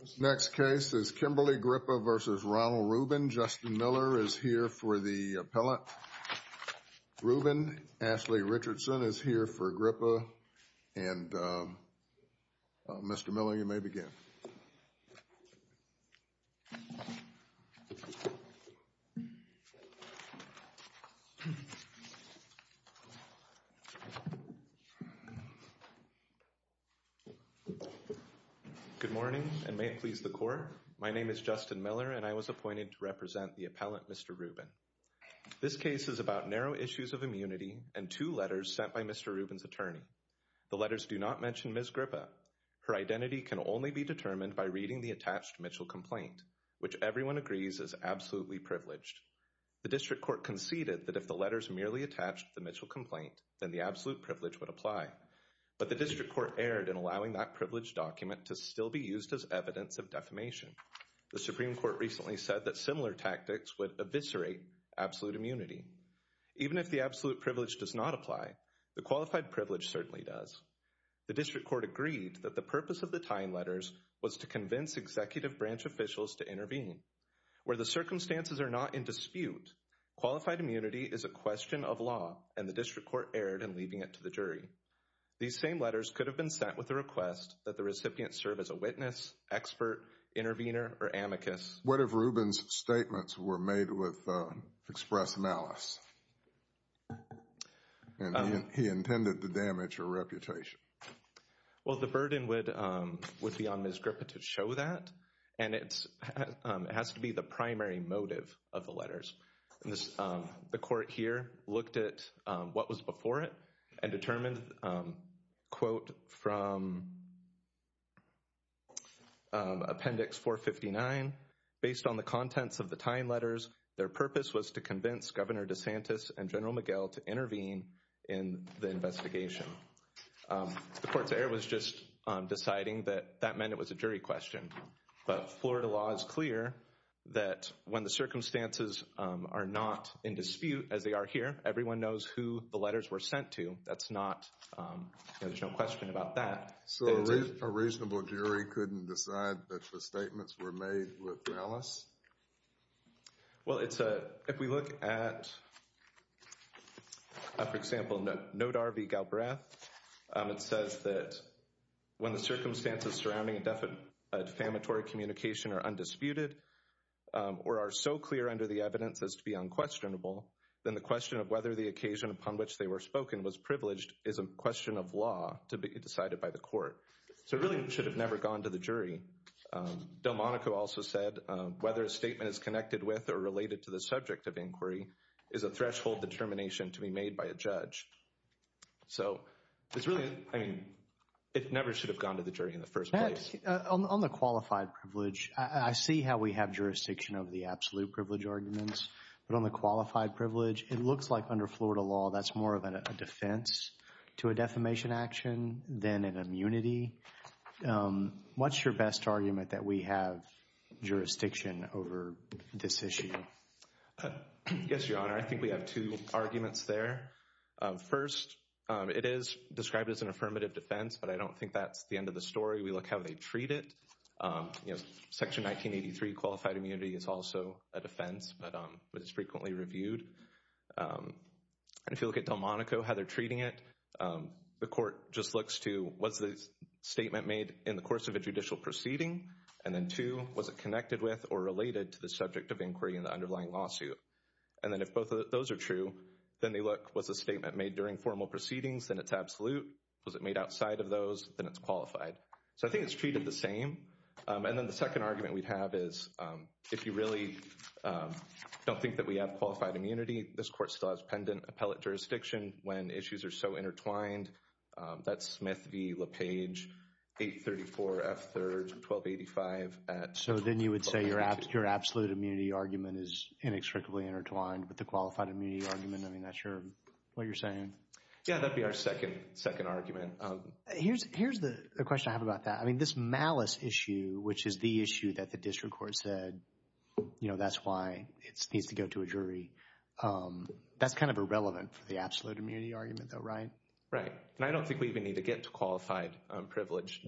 This next case is Kimberly Grippa v. Ronald Rubin. Justin Miller is here for the appellate. Rubin, Ashley Richardson is here for Grippa and Mr. Miller, you may begin. Good morning and may it please the court. My name is Justin Miller and I was appointed to represent the appellate Mr. Rubin. This case is about narrow issues of immunity and two letters sent by Mr. Rubin's attorney. The letters do not mention Ms. Grippa. Her identity can only be determined by reading the attached Mitchell complaint, which everyone agrees is absolutely privileged. The district court conceded that if the letters merely attached the Mitchell complaint, then the absolute privilege would apply. But the district court erred in allowing that privilege document to still be used as evidence of defamation. The Supreme Court recently said that similar tactics would eviscerate absolute immunity. Even if the absolute privilege does not apply, the qualified privilege certainly does. The district court agreed that the purpose of the time letters was to convince executive branch officials to intervene. Where the circumstances are not in dispute, qualified immunity is a question of law and the district court erred in leaving it to the jury. These same letters could have been sent with the request that the recipient serve as a witness, expert, intervener, or amicus. What if Rubin's statements were made with express malice? And he intended the damage or reputation? Well, the burden would be on Ms. Grippa to show that. And it has to be the primary motive of the letters. The court here looked at what was before it and determined, quote, from appendix 459, based on the contents of the time letters, their purpose was to convince Governor DeSantis and General McGill to intervene in the investigation. The court's error was just deciding that that meant it was a jury question. But Florida law is clear that when the circumstances are not in dispute as they are here, everyone knows who the letters were sent to. That's not, there's no question about that. So a reasonable jury couldn't decide that the statements were made with malice? Well, it's a, if we look at, for example, note RV Galbraith, it says that when the circumstances surrounding a defamatory communication are undisputed or are so clear under the evidence as to be unquestionable, then the question of whether the occasion upon which they were spoken was privileged is a question of law to be decided by the court. So it really should have never gone to the jury. Delmonico also said whether a statement is connected with or related to the subject of inquiry is a threshold determination to be made by a judge. So it's really, I mean, it never should have gone to the jury in the first place. On the qualified privilege, I see how we have jurisdiction over the absolute privilege arguments. But on the qualified privilege, it looks like under Florida law, that's more of a defense to a defamation action than an immunity. What's your best argument that we have jurisdiction over this issue? Yes, Your Honor, I think we have two arguments there. First, it is described as an affirmative defense, but I don't think that's the end of the story. We look how they treat it. Section 1983, qualified immunity, is also a defense, but it's frequently reviewed. If you look at Delmonico, how they're treating it, the court just looks to, was the statement made in the course of a judicial proceeding? And then two, was it connected with or related to the subject of inquiry in the underlying lawsuit? And then if both of those are true, then they look, was the statement made during formal proceedings, then it's absolute? Was it made outside of those, then it's qualified. So I think it's treated the same. And then the second argument we'd have is, if you really don't think that we have qualified immunity, this court still has pendant appellate jurisdiction when issues are so intertwined. That's Smith v. LaPage, 834 F. 3rd, 1285. So then you would say your absolute immunity argument is inextricably intertwined with the qualified immunity argument? I mean, that's your, what you're saying? Yeah, that'd be our second argument. Here's the question I have about that. I mean, this malice issue, which is the issue that the district court said, you know, that's why it needs to go to a jury, that's kind of irrelevant for the absolute immunity argument though, right? Right. And I don't think we even need to get to qualified privilege.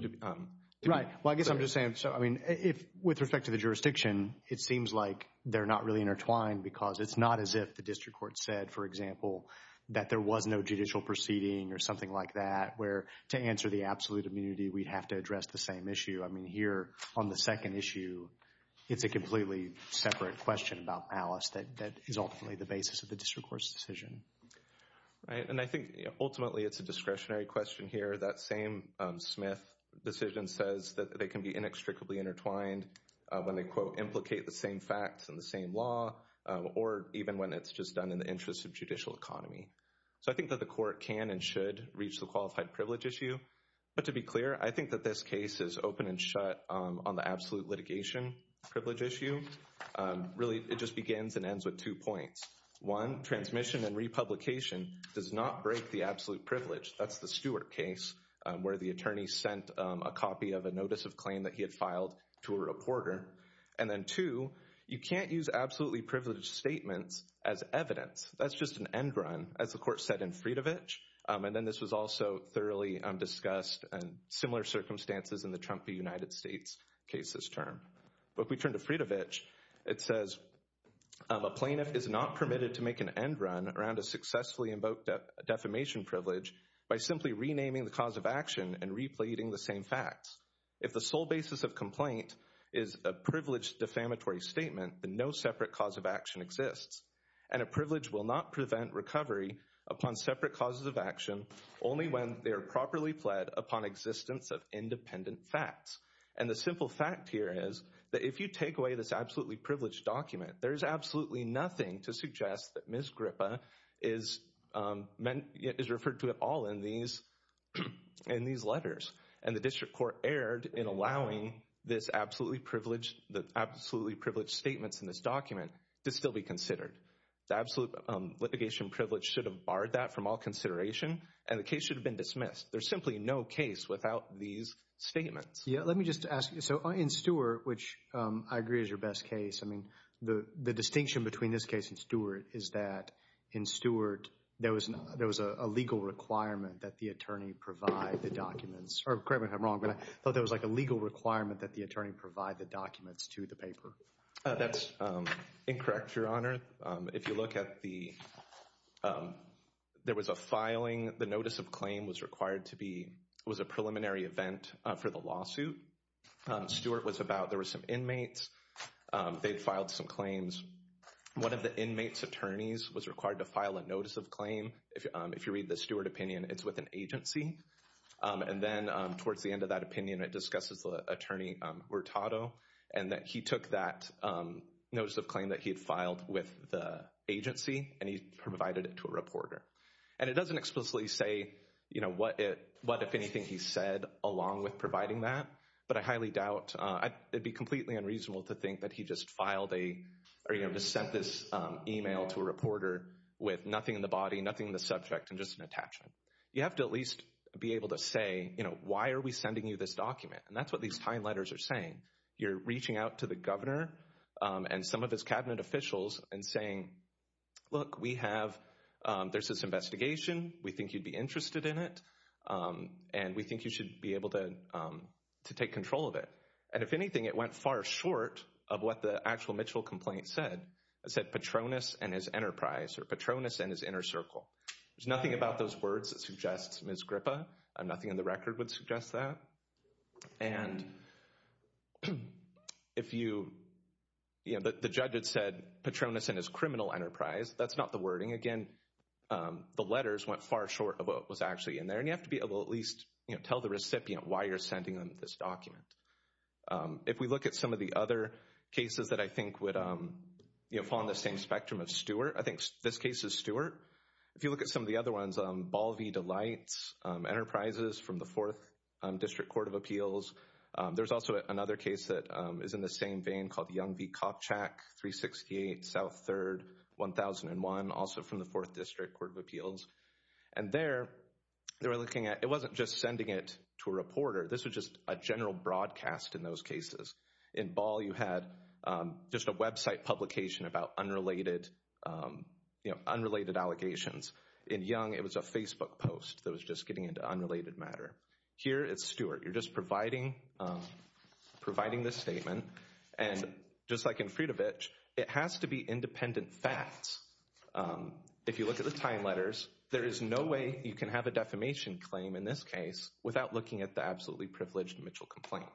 Right. Well, I guess I'm just saying, so, I mean, if, with respect to the jurisdiction, it seems like they're not really intertwined because it's not as if the district court said, for example, that there was no judicial proceeding or something like that, where to answer the absolute immunity, we'd have to address the same issue. I mean, here on the second issue, it's a completely separate question about malice that is ultimately the basis of the district court's decision. Right. And I think ultimately it's a discretionary question here. That same Smith decision says that they can be inextricably intertwined when they, quote, So I think that the court can and should reach the qualified privilege issue. But to be clear, I think that this case is open and shut on the absolute litigation privilege issue. Really, it just begins and ends with two points. One, transmission and republication does not break the absolute privilege. That's the Stewart case where the attorney sent a copy of a notice of claim that he had filed to a reporter. And then two, you can't use absolutely privileged statements as evidence. That's just an end run, as the court said in Fridovich. And then this was also thoroughly discussed in similar circumstances in the Trump v. United States case this term. But if we turn to Fridovich, it says a plaintiff is not permitted to make an end run around a successfully invoked defamation privilege by simply renaming the cause of action and replating the same facts. If the sole basis of complaint is a privileged defamatory statement, then no separate cause of action exists. And a privilege will not prevent recovery upon separate causes of action only when they are properly pled upon existence of independent facts. And the simple fact here is that if you take away this absolutely privileged document, there is absolutely nothing to suggest that Ms. Gripa is referred to at all in these letters. And the district court erred in allowing this absolutely privileged, the absolutely privileged statements in this document to still be considered. The absolute litigation privilege should have barred that from all consideration, and the case should have been dismissed. There's simply no case without these statements. Yeah, let me just ask you. So in Stewart, which I agree is your best case, I mean, the distinction between this case and Stewart is that in Stewart, there was a legal requirement that the attorney provide the documents. Correct me if I'm wrong, but I thought there was like a legal requirement that the attorney provide the documents to the paper. That's incorrect, Your Honor. If you look at the, there was a filing, the notice of claim was required to be, was a preliminary event for the lawsuit. Stewart was about, there were some inmates, they'd filed some claims. One of the inmates' attorneys was required to file a notice of claim. If you read the Stewart opinion, it's with an agency. And then towards the end of that opinion, it discusses the attorney, Hurtado, and that he took that notice of claim that he had filed with the agency, and he provided it to a reporter. And it doesn't explicitly say, you know, what if anything he said along with providing that, but I highly doubt, it'd be completely unreasonable to think that he just filed a, or you know, sent this email to a reporter with nothing in the body, nothing in the subject, and just an attachment. You have to at least be able to say, you know, why are we sending you this document? And that's what these fine letters are saying. You're reaching out to the governor and some of his cabinet officials and saying, look, we have, there's this investigation, we think you'd be interested in it, and we think you should be able to take control of it. And if anything, it went far short of what the actual Mitchell complaint said. It said, Patronus and his enterprise, or Patronus and his inner circle. There's nothing about those words that suggests Ms. Grippa. Nothing in the record would suggest that. And if you, you know, the judge had said Patronus and his criminal enterprise. That's not the wording. Again, the letters went far short of what was actually in there. And you have to be able to at least, you know, tell the recipient why you're sending them this document. If we look at some of the other cases that I think would, you know, fall on the same spectrum of Stewart, I think this case is Stewart. If you look at some of the other ones, Ball v. Delites, Enterprises from the 4th District Court of Appeals. There's also another case that is in the same vein called Young v. Kopchak, 368 South 3rd, 1001, also from the 4th District Court of Appeals. And there, they were looking at, it wasn't just sending it to a reporter. This was just a general broadcast in those cases. In Ball, you had just a website publication about unrelated, you know, unrelated allegations. In Young, it was a Facebook post that was just getting into unrelated matter. Here it's Stewart. You're just providing this statement. And just like in Friedovich, it has to be independent facts. If you look at the time letters, there is no way you can have a defamation claim in this case without looking at the absolutely privileged Mitchell complaint.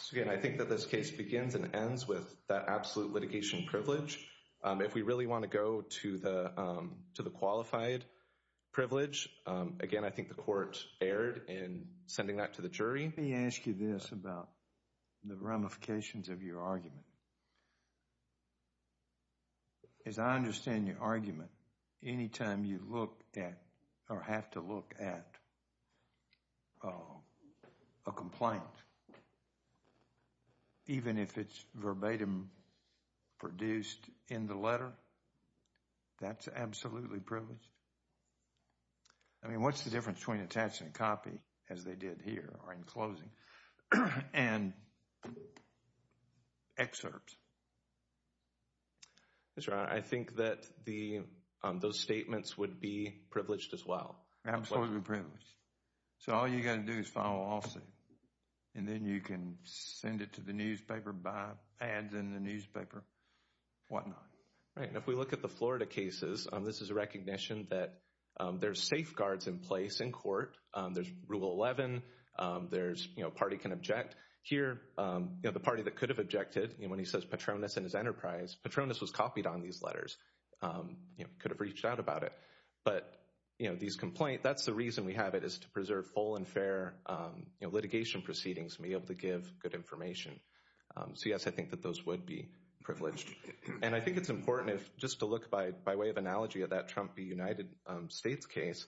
So again, I think that this case begins and ends with that absolute litigation privilege. If we really want to go to the qualified privilege, again, I think the court erred in sending that to the jury. Let me ask you this about the ramifications of your argument. As I understand your argument, any time you look at or have to look at a complaint, even if it's verbatim produced in the letter, that's absolutely privileged? I mean, what's the difference between attaching a copy, as they did here, or in closing, and excerpts? Mr. Ryan, I think that the, those statements would be privileged as well. Absolutely privileged. So all you got to do is file a lawsuit, and then you can send it to the newspaper, buy ads in the newspaper, whatnot. Right, and if we look at the Florida cases, this is a recognition that there's safeguards in place in court, there's Rule 11, there's, you know, a party can object. Here, you know, the party that could have objected, you know, when he says Patronus and his enterprise, Patronus was copied on these letters, you know, could have reached out about it. But, you know, these complaints, that's the reason we have it, is to preserve full and fair litigation proceedings, to be able to give good information. So yes, I think that those would be privileged. And I think it's important if, just to look by way of analogy of that Trump v. United States case,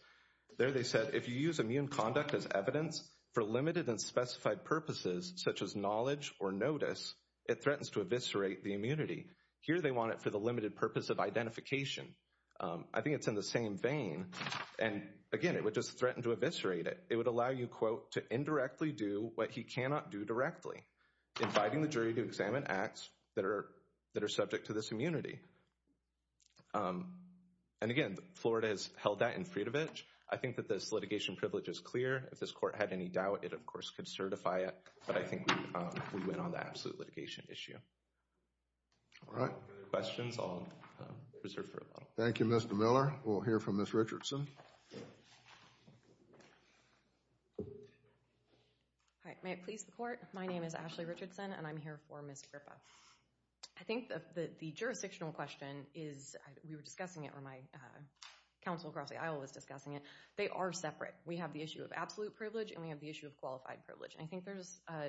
there they said, if you use immune conduct as evidence for limited and specified purposes, such as knowledge or notice, it threatens to eviscerate the immunity. Here they want it for the limited purpose of identification. I think it's in the same vein, and again, it would just threaten to eviscerate it. It would allow you, quote, to indirectly do what he cannot do directly, inviting the jury to examine acts that are subject to this immunity. And again, Florida has held that in Fridovich. I think that this litigation privilege is clear. If this court had any doubt, it of course could certify it. But I think we went on the absolute litigation issue. All right. Any other questions? I'll reserve for a little while. Thank you, Mr. Miller. We'll hear from Ms. Richardson. All right. May it please the Court. My name is Ashley Richardson, and I'm here for Ms. Gripa. I think that the jurisdictional question is, we were discussing it, or my counsel across the aisle was discussing it. They are separate. We have the issue of absolute privilege, and we have the issue of qualified privilege. And I think there's a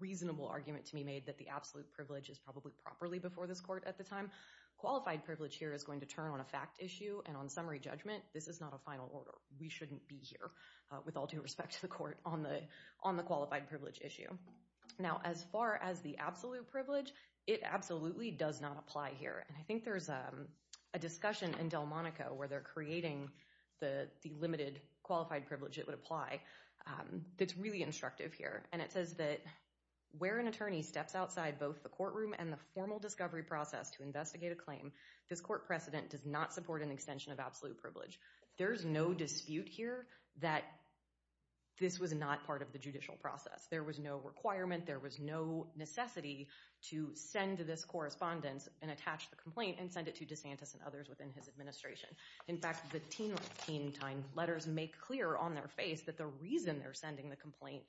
reasonable argument to be made that the absolute privilege is probably properly before this court at the time. Qualified privilege here is going to turn on a fact issue, and on summary judgment, this is not a final order. We shouldn't be here, with all due respect to the Court, on the qualified privilege issue. Now, as far as the absolute privilege, it absolutely does not apply here. And I think there's a discussion in Delmonico where they're creating the limited qualified privilege that would apply that's really instructive here. And it says that, where an attorney steps outside both the courtroom and the formal discovery process to investigate a claim, this court precedent does not support an extension of absolute privilege. There's no dispute here that this was not part of the judicial process. There was no requirement, there was no necessity to send this correspondence and attach the complaint and send it to DeSantis and others within his administration. In fact, the teen time letters make clear on their face that the reason they're sending the complaint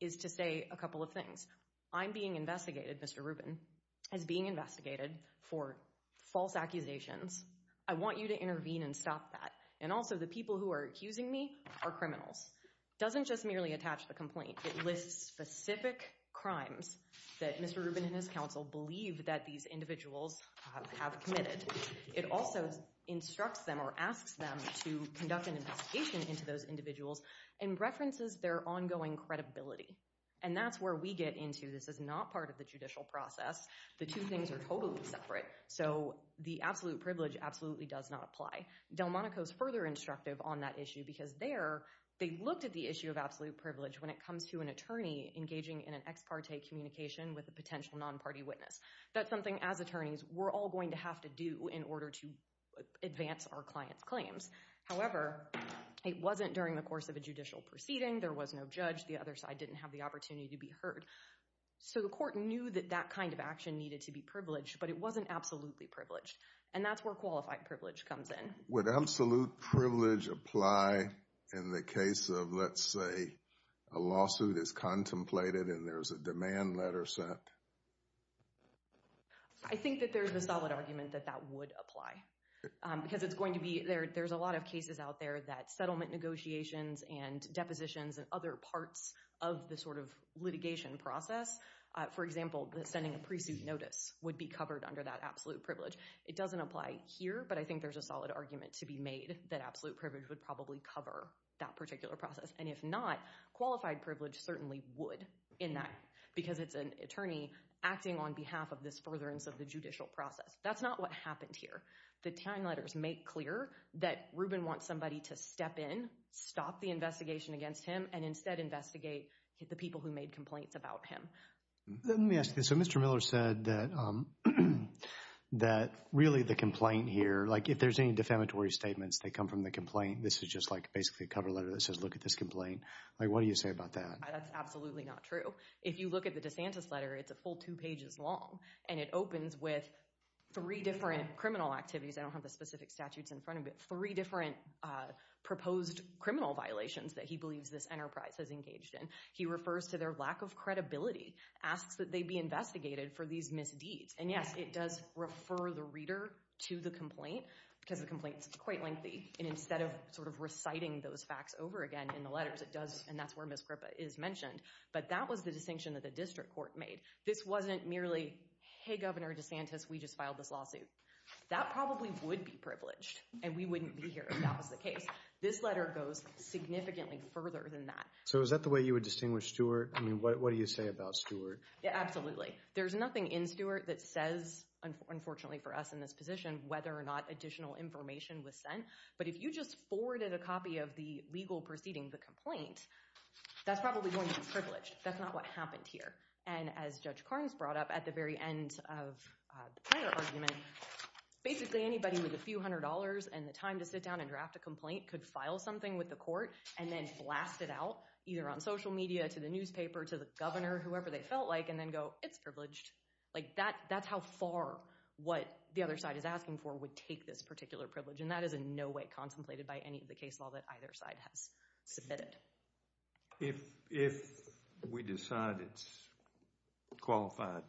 is to say a couple of things. I'm being investigated, Mr. Rubin, as being investigated for false accusations. I want you to intervene and stop that. And also, the people who are accusing me are criminals. It doesn't just merely attach the complaint, it lists specific crimes that Mr. Rubin and his counsel believe that these individuals have committed. It also instructs them or asks them to conduct an investigation into those individuals and references their ongoing credibility. And that's where we get into, this is not part of the judicial process, the two things are totally separate. So the absolute privilege absolutely does not apply. Delmonico's further instructive on that issue because there, they looked at the issue of absolute privilege when it comes to an attorney engaging in an ex parte communication with a potential non-party witness. That's something, as attorneys, we're all going to have to do in order to advance our client's claims. However, it wasn't during the course of a judicial proceeding, there was no judge, the other side didn't have the opportunity to be heard. So the court knew that that kind of action needed to be privileged, but it wasn't absolutely privileged. And that's where qualified privilege comes in. Would absolute privilege apply in the case of, let's say, a lawsuit is contemplated and there's a demand letter sent? I think that there's a solid argument that that would apply. Because it's going to be, there's a lot of cases out there that settlement negotiations and depositions and other parts of the sort of litigation process, for example, sending a pre-suit notice would be covered under that absolute privilege. It doesn't apply here, but I think there's a solid argument to be made that absolute privilege would probably cover that particular process. And if not, qualified privilege certainly would in that, because it's an attorney acting on behalf of this furtherance of the judicial process. That's not what happened here. The TANG letters make clear that Reuben wants somebody to step in, stop the investigation against him, and instead investigate the people who made complaints about him. Let me ask you, so Mr. Miller said that really the complaint here, like if there's any defamatory statements that come from the complaint, this is just like basically a cover letter that says, look at this complaint. Like, what do you say about that? That's absolutely not true. If you look at the DeSantis letter, it's a full two pages long, and it opens with three different criminal activities. I don't have the specific statutes in front of me, but three different proposed criminal violations that he believes this enterprise has engaged in. He refers to their lack of credibility, asks that they be investigated for these misdeeds. And yes, it does refer the reader to the complaint, because the complaint's quite lengthy. And instead of sort of reciting those facts over again in the letters, it does, and that's where Ms. Gripa is mentioned, but that was the distinction that the district court made. This wasn't merely, hey, Governor DeSantis, we just filed this lawsuit. That probably would be privileged, and we wouldn't be here if that was the case. This letter goes significantly further than that. So is that the way you would distinguish Stewart? I mean, what do you say about Stewart? Yeah, absolutely. There's nothing in Stewart that says, unfortunately for us in this position, whether or not additional information was sent. But if you just forwarded a copy of the legal proceeding, the complaint, that's probably going to be privileged. That's not what happened here. And as Judge Carnes brought up at the very end of the Planner argument, basically anybody with a few hundred dollars and the time to sit down and draft a complaint could file something with the court and then blast it out, either on social media, to the newspaper, to the governor, whoever they felt like, and then go, it's privileged. That's how far what the other side is asking for would take this particular privilege. And that is in no way contemplated by any of the case law that either side has submitted. If we decide it's qualified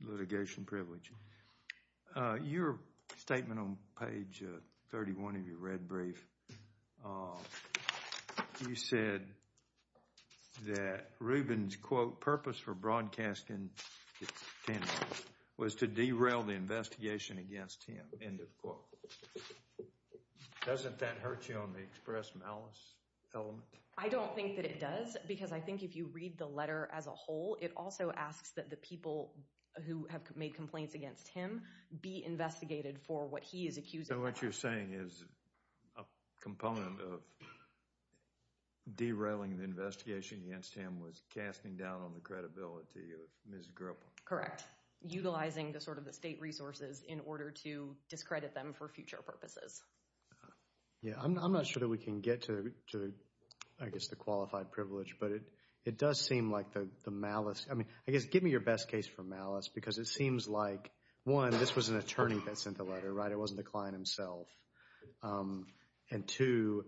litigation privilege, your statement on page 31 of your red brief, you said that Rubin's, quote, purpose for broadcasting was to derail the investigation against him, end of quote. Doesn't that hurt you on the express malice element? I don't think that it does, because I think if you read the letter as a whole, it also asks that the people who have made complaints against him be investigated for what he is accusing them of. So what you're saying is a component of derailing the investigation against him was casting down on the credibility of Ms. Gripple. Correct. Utilizing the sort of the state resources in order to discredit them for future purposes. Yeah, I'm not sure that we can get to, I guess, the qualified privilege, but it does seem like the malice, I mean, I guess, give me your best case for malice, because it seems like, one, this was an attorney that sent the letter, right, it wasn't the client himself. And two,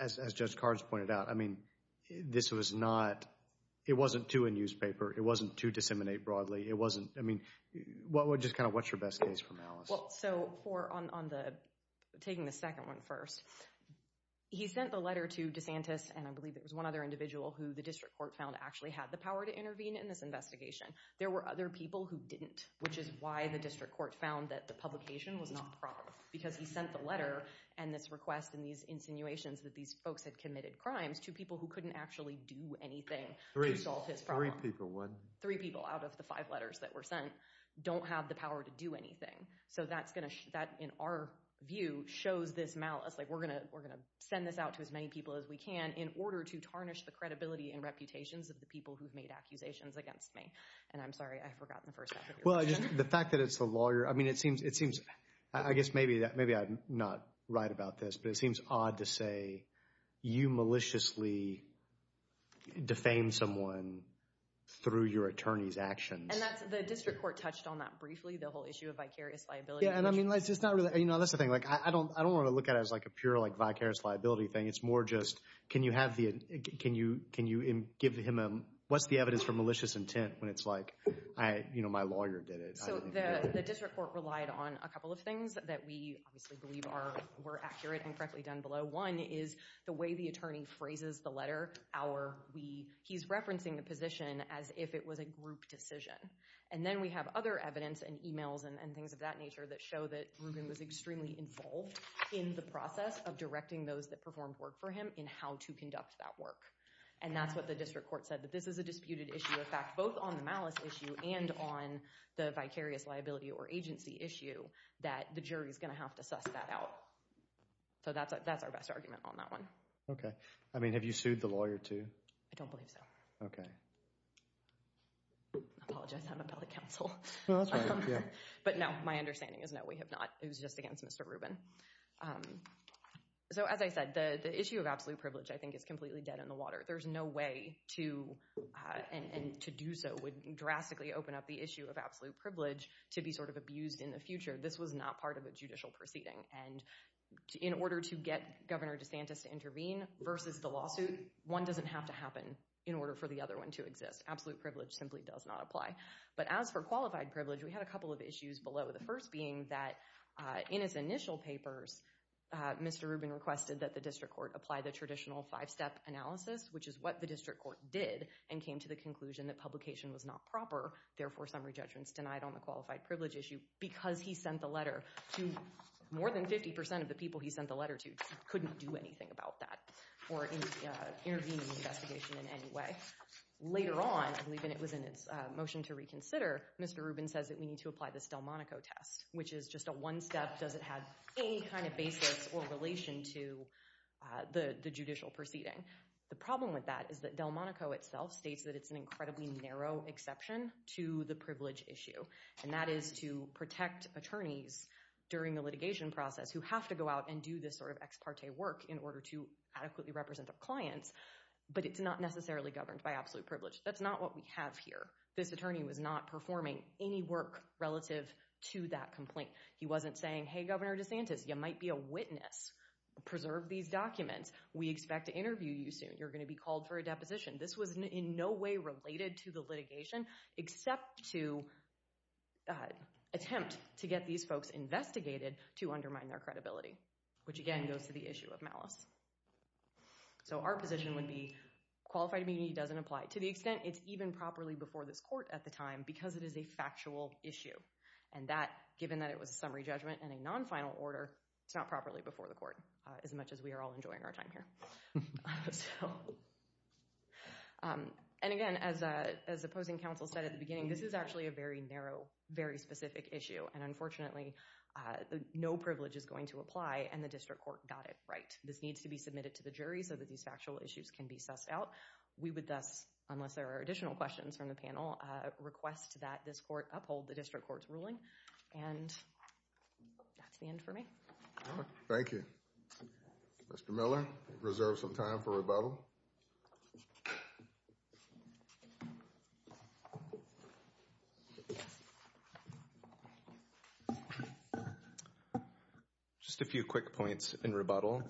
as Judge Cards pointed out, I mean, this was not, it wasn't to a newspaper, it wasn't to disseminate broadly, it wasn't, I mean, just kind of what's your best case for malice? Well, so for, on the, taking the second one first, he sent the letter to DeSantis, and I believe there was one other individual who the district court found actually had the power to intervene in this investigation. There were other people who didn't, which is why the district court found that the publication was not proper, because he sent the letter and this request and these insinuations that these folks had committed crimes to people who couldn't actually do anything to solve his problem. Three people, one. Three people out of the five letters that were sent don't have the power to do anything. So that's going to, that, in our view, shows this malice, like, we're going to, we're going to send this out to as many people as we can in order to tarnish the credibility and reputations of the people who've made accusations against me. And I'm sorry, I forgot the first half of your question. Well, I just, the fact that it's the lawyer, I mean, it seems, it seems, I guess maybe that, maybe I'm not right about this, but it seems odd to say you maliciously defamed someone through your attorney's actions. And that's, the district court touched on that briefly. The whole issue of vicarious liability. And I mean, let's just not really, you know, that's the thing. Like, I don't, I don't want to look at it as, like, a pure, like, vicarious liability thing. It's more just, can you have the, can you, can you give him a, what's the evidence for malicious intent when it's like, I, you know, my lawyer did it. So the district court relied on a couple of things that we obviously believe are, were accurate and correctly done below. One is the way the attorney phrases the letter, our, we, he's referencing the position as if it was a group decision. And then we have other evidence and emails and things of that nature that show that Rubin was extremely involved in the process of directing those that performed work for him in how to conduct that work. And that's what the district court said, that this is a disputed issue. In fact, both on the malice issue and on the vicarious liability or agency issue, that the jury's going to have to suss that out. So that's, that's our best argument on that one. Okay. I mean, have you sued the lawyer too? I don't believe so. Okay. Apologize. I thought you guys had an appellate counsel. No, that's fine. Yeah. But no, my understanding is no, we have not. It was just against Mr. Rubin. So as I said, the, the issue of absolute privilege I think is completely dead in the water. There's no way to, and to do so would drastically open up the issue of absolute privilege to be sort of abused in the future. This was not part of a judicial proceeding and in order to get Governor DeSantis to intervene versus the lawsuit, one doesn't have to happen in order for the other one to exist. Absolute privilege simply does not apply. But as for qualified privilege, we had a couple of issues below. The first being that in his initial papers, Mr. Rubin requested that the district court apply the traditional five-step analysis, which is what the district court did and came to the conclusion that publication was not proper, therefore summary judgments denied on the qualified privilege issue because he sent the letter to more than 50% of the people he sent the letter to. He couldn't do anything about that or intervene in the investigation in any way. Later on, I believe, and it was in its motion to reconsider, Mr. Rubin says that we need to apply this Delmonico test, which is just a one-step, doesn't have any kind of basis or relation to the judicial proceeding. The problem with that is that Delmonico itself states that it's an incredibly narrow exception to the privilege issue and that is to protect attorneys during the litigation process who have to go out and do this sort of ex parte work in order to adequately represent their clients, but it's not necessarily governed by absolute privilege. That's not what we have here. This attorney was not performing any work relative to that complaint. He wasn't saying, hey, Governor DeSantis, you might be a witness, preserve these documents, we expect to interview you soon, you're going to be called for a deposition. This was in no way related to the litigation except to attempt to get these folks investigated to undermine their credibility, which again goes to the issue of malice. So, our position would be qualified immunity doesn't apply to the extent it's even properly before this court at the time because it is a factual issue and that, given that it was a summary judgment and a non-final order, it's not properly before the court as much as we are all enjoying our time here. So, and again, as opposing counsel said at the beginning, this is actually a very narrow, very specific issue and unfortunately, no privilege is going to apply and the district court got it right. This needs to be submitted to the jury so that these factual issues can be sussed out. We would thus, unless there are additional questions from the panel, request that this court uphold the district court's ruling and that's the end for me. Thank you. Mr. Miller, reserve some time for rebuttal. Just a few quick points in rebuttal.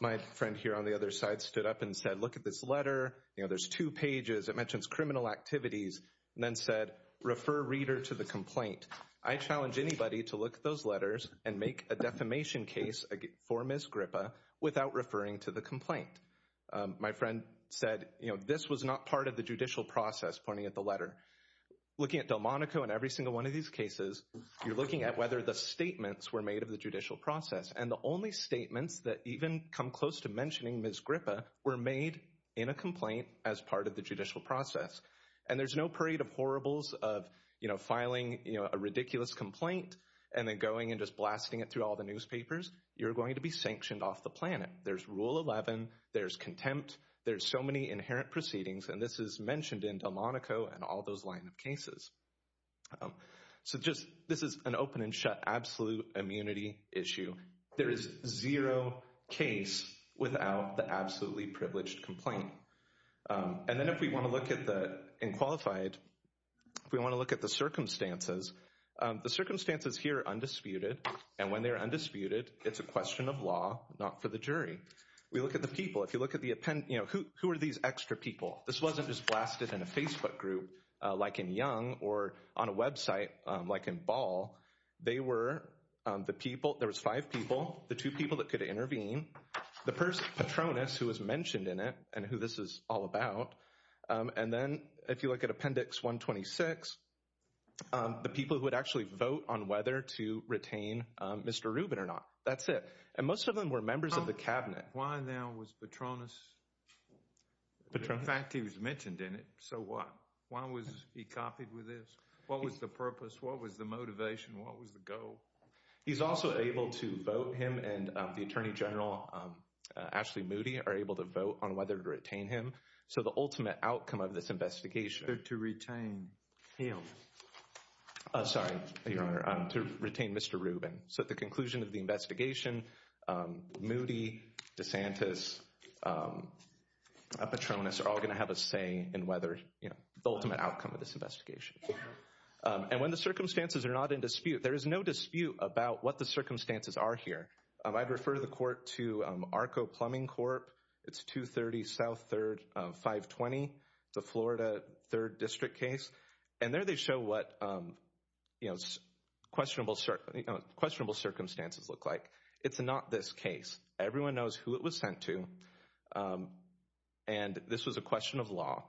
My friend here on the other side stood up and said, look at this letter, you know, there's two pages. It mentions criminal activities and then said, refer reader to the complaint. I challenge anybody to look at those letters and make a defamation case for Ms. Gripa without referring to the complaint. My friend said, you know, this was not part of the judicial process, pointing at the letter. Looking at Delmonico and every single one of these cases, you're looking at whether the statements were made of the judicial process and the only statements that even come close to mentioning Ms. Gripa were made in a complaint as part of the judicial process. And there's no parade of horribles of, you know, filing, you know, a ridiculous complaint and then going and just blasting it through all the newspapers. You're going to be sanctioned off the planet. There's rule 11, there's contempt, there's so many inherent proceedings and this is mentioned in Delmonico and all those line of cases. So just, this is an open and shut absolute immunity issue. There is zero case without the absolutely privileged complaint. And then if we want to look at the, in qualified, if we want to look at the circumstances, the circumstances here are undisputed and when they're undisputed, it's a question of law, not for the jury. We look at the people. If you look at the append, you know, who are these extra people? This wasn't just blasted in a Facebook group like in Young or on a website like in Ball. They were the people, there was five people, the two people that could intervene. The first, Patronus, who was mentioned in it and who this is all about. And then if you look at Appendix 126, the people who would actually vote on whether to retain Mr. Rubin or not. That's it. And most of them were members of the cabinet. Why now was Patronus, in fact, he was mentioned in it. So what? Why was he copied with this? What was the purpose? What was the motivation? What was the goal? He's also able to vote him and the Attorney General, Ashley Moody, are able to vote on whether to retain him. So the ultimate outcome of this investigation. To retain him. Sorry, Your Honor, to retain Mr. Rubin. So at the conclusion of the investigation, Moody, DeSantis, Patronus are all going to have a say in whether, you know, the ultimate outcome of this investigation. And when the circumstances are not in dispute, there is no dispute about what the circumstances are here. I'd refer the court to ARCO Plumbing Corp. It's 230 South 3rd, 520, the Florida 3rd District case. And there they show what, you know, questionable circumstances look like. It's not this case. Everyone knows who it was sent to. And this was a question of law.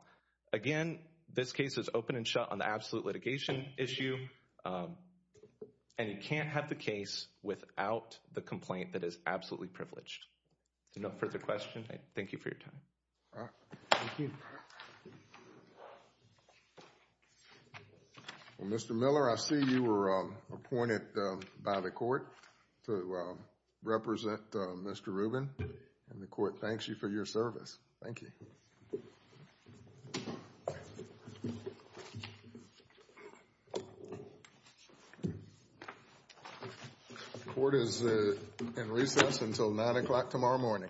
Again, this case is open and shut on the absolute litigation issue. And you can't have the case without the complaint that is absolutely privileged. No further questions. Thank you for your time. All right. Thank you. Thank you. Well, Mr. Miller, I see you were appointed by the court to represent Mr. Rubin, and the court thanks you for your service. Thank you. The court is in recess until 9 o'clock tomorrow morning.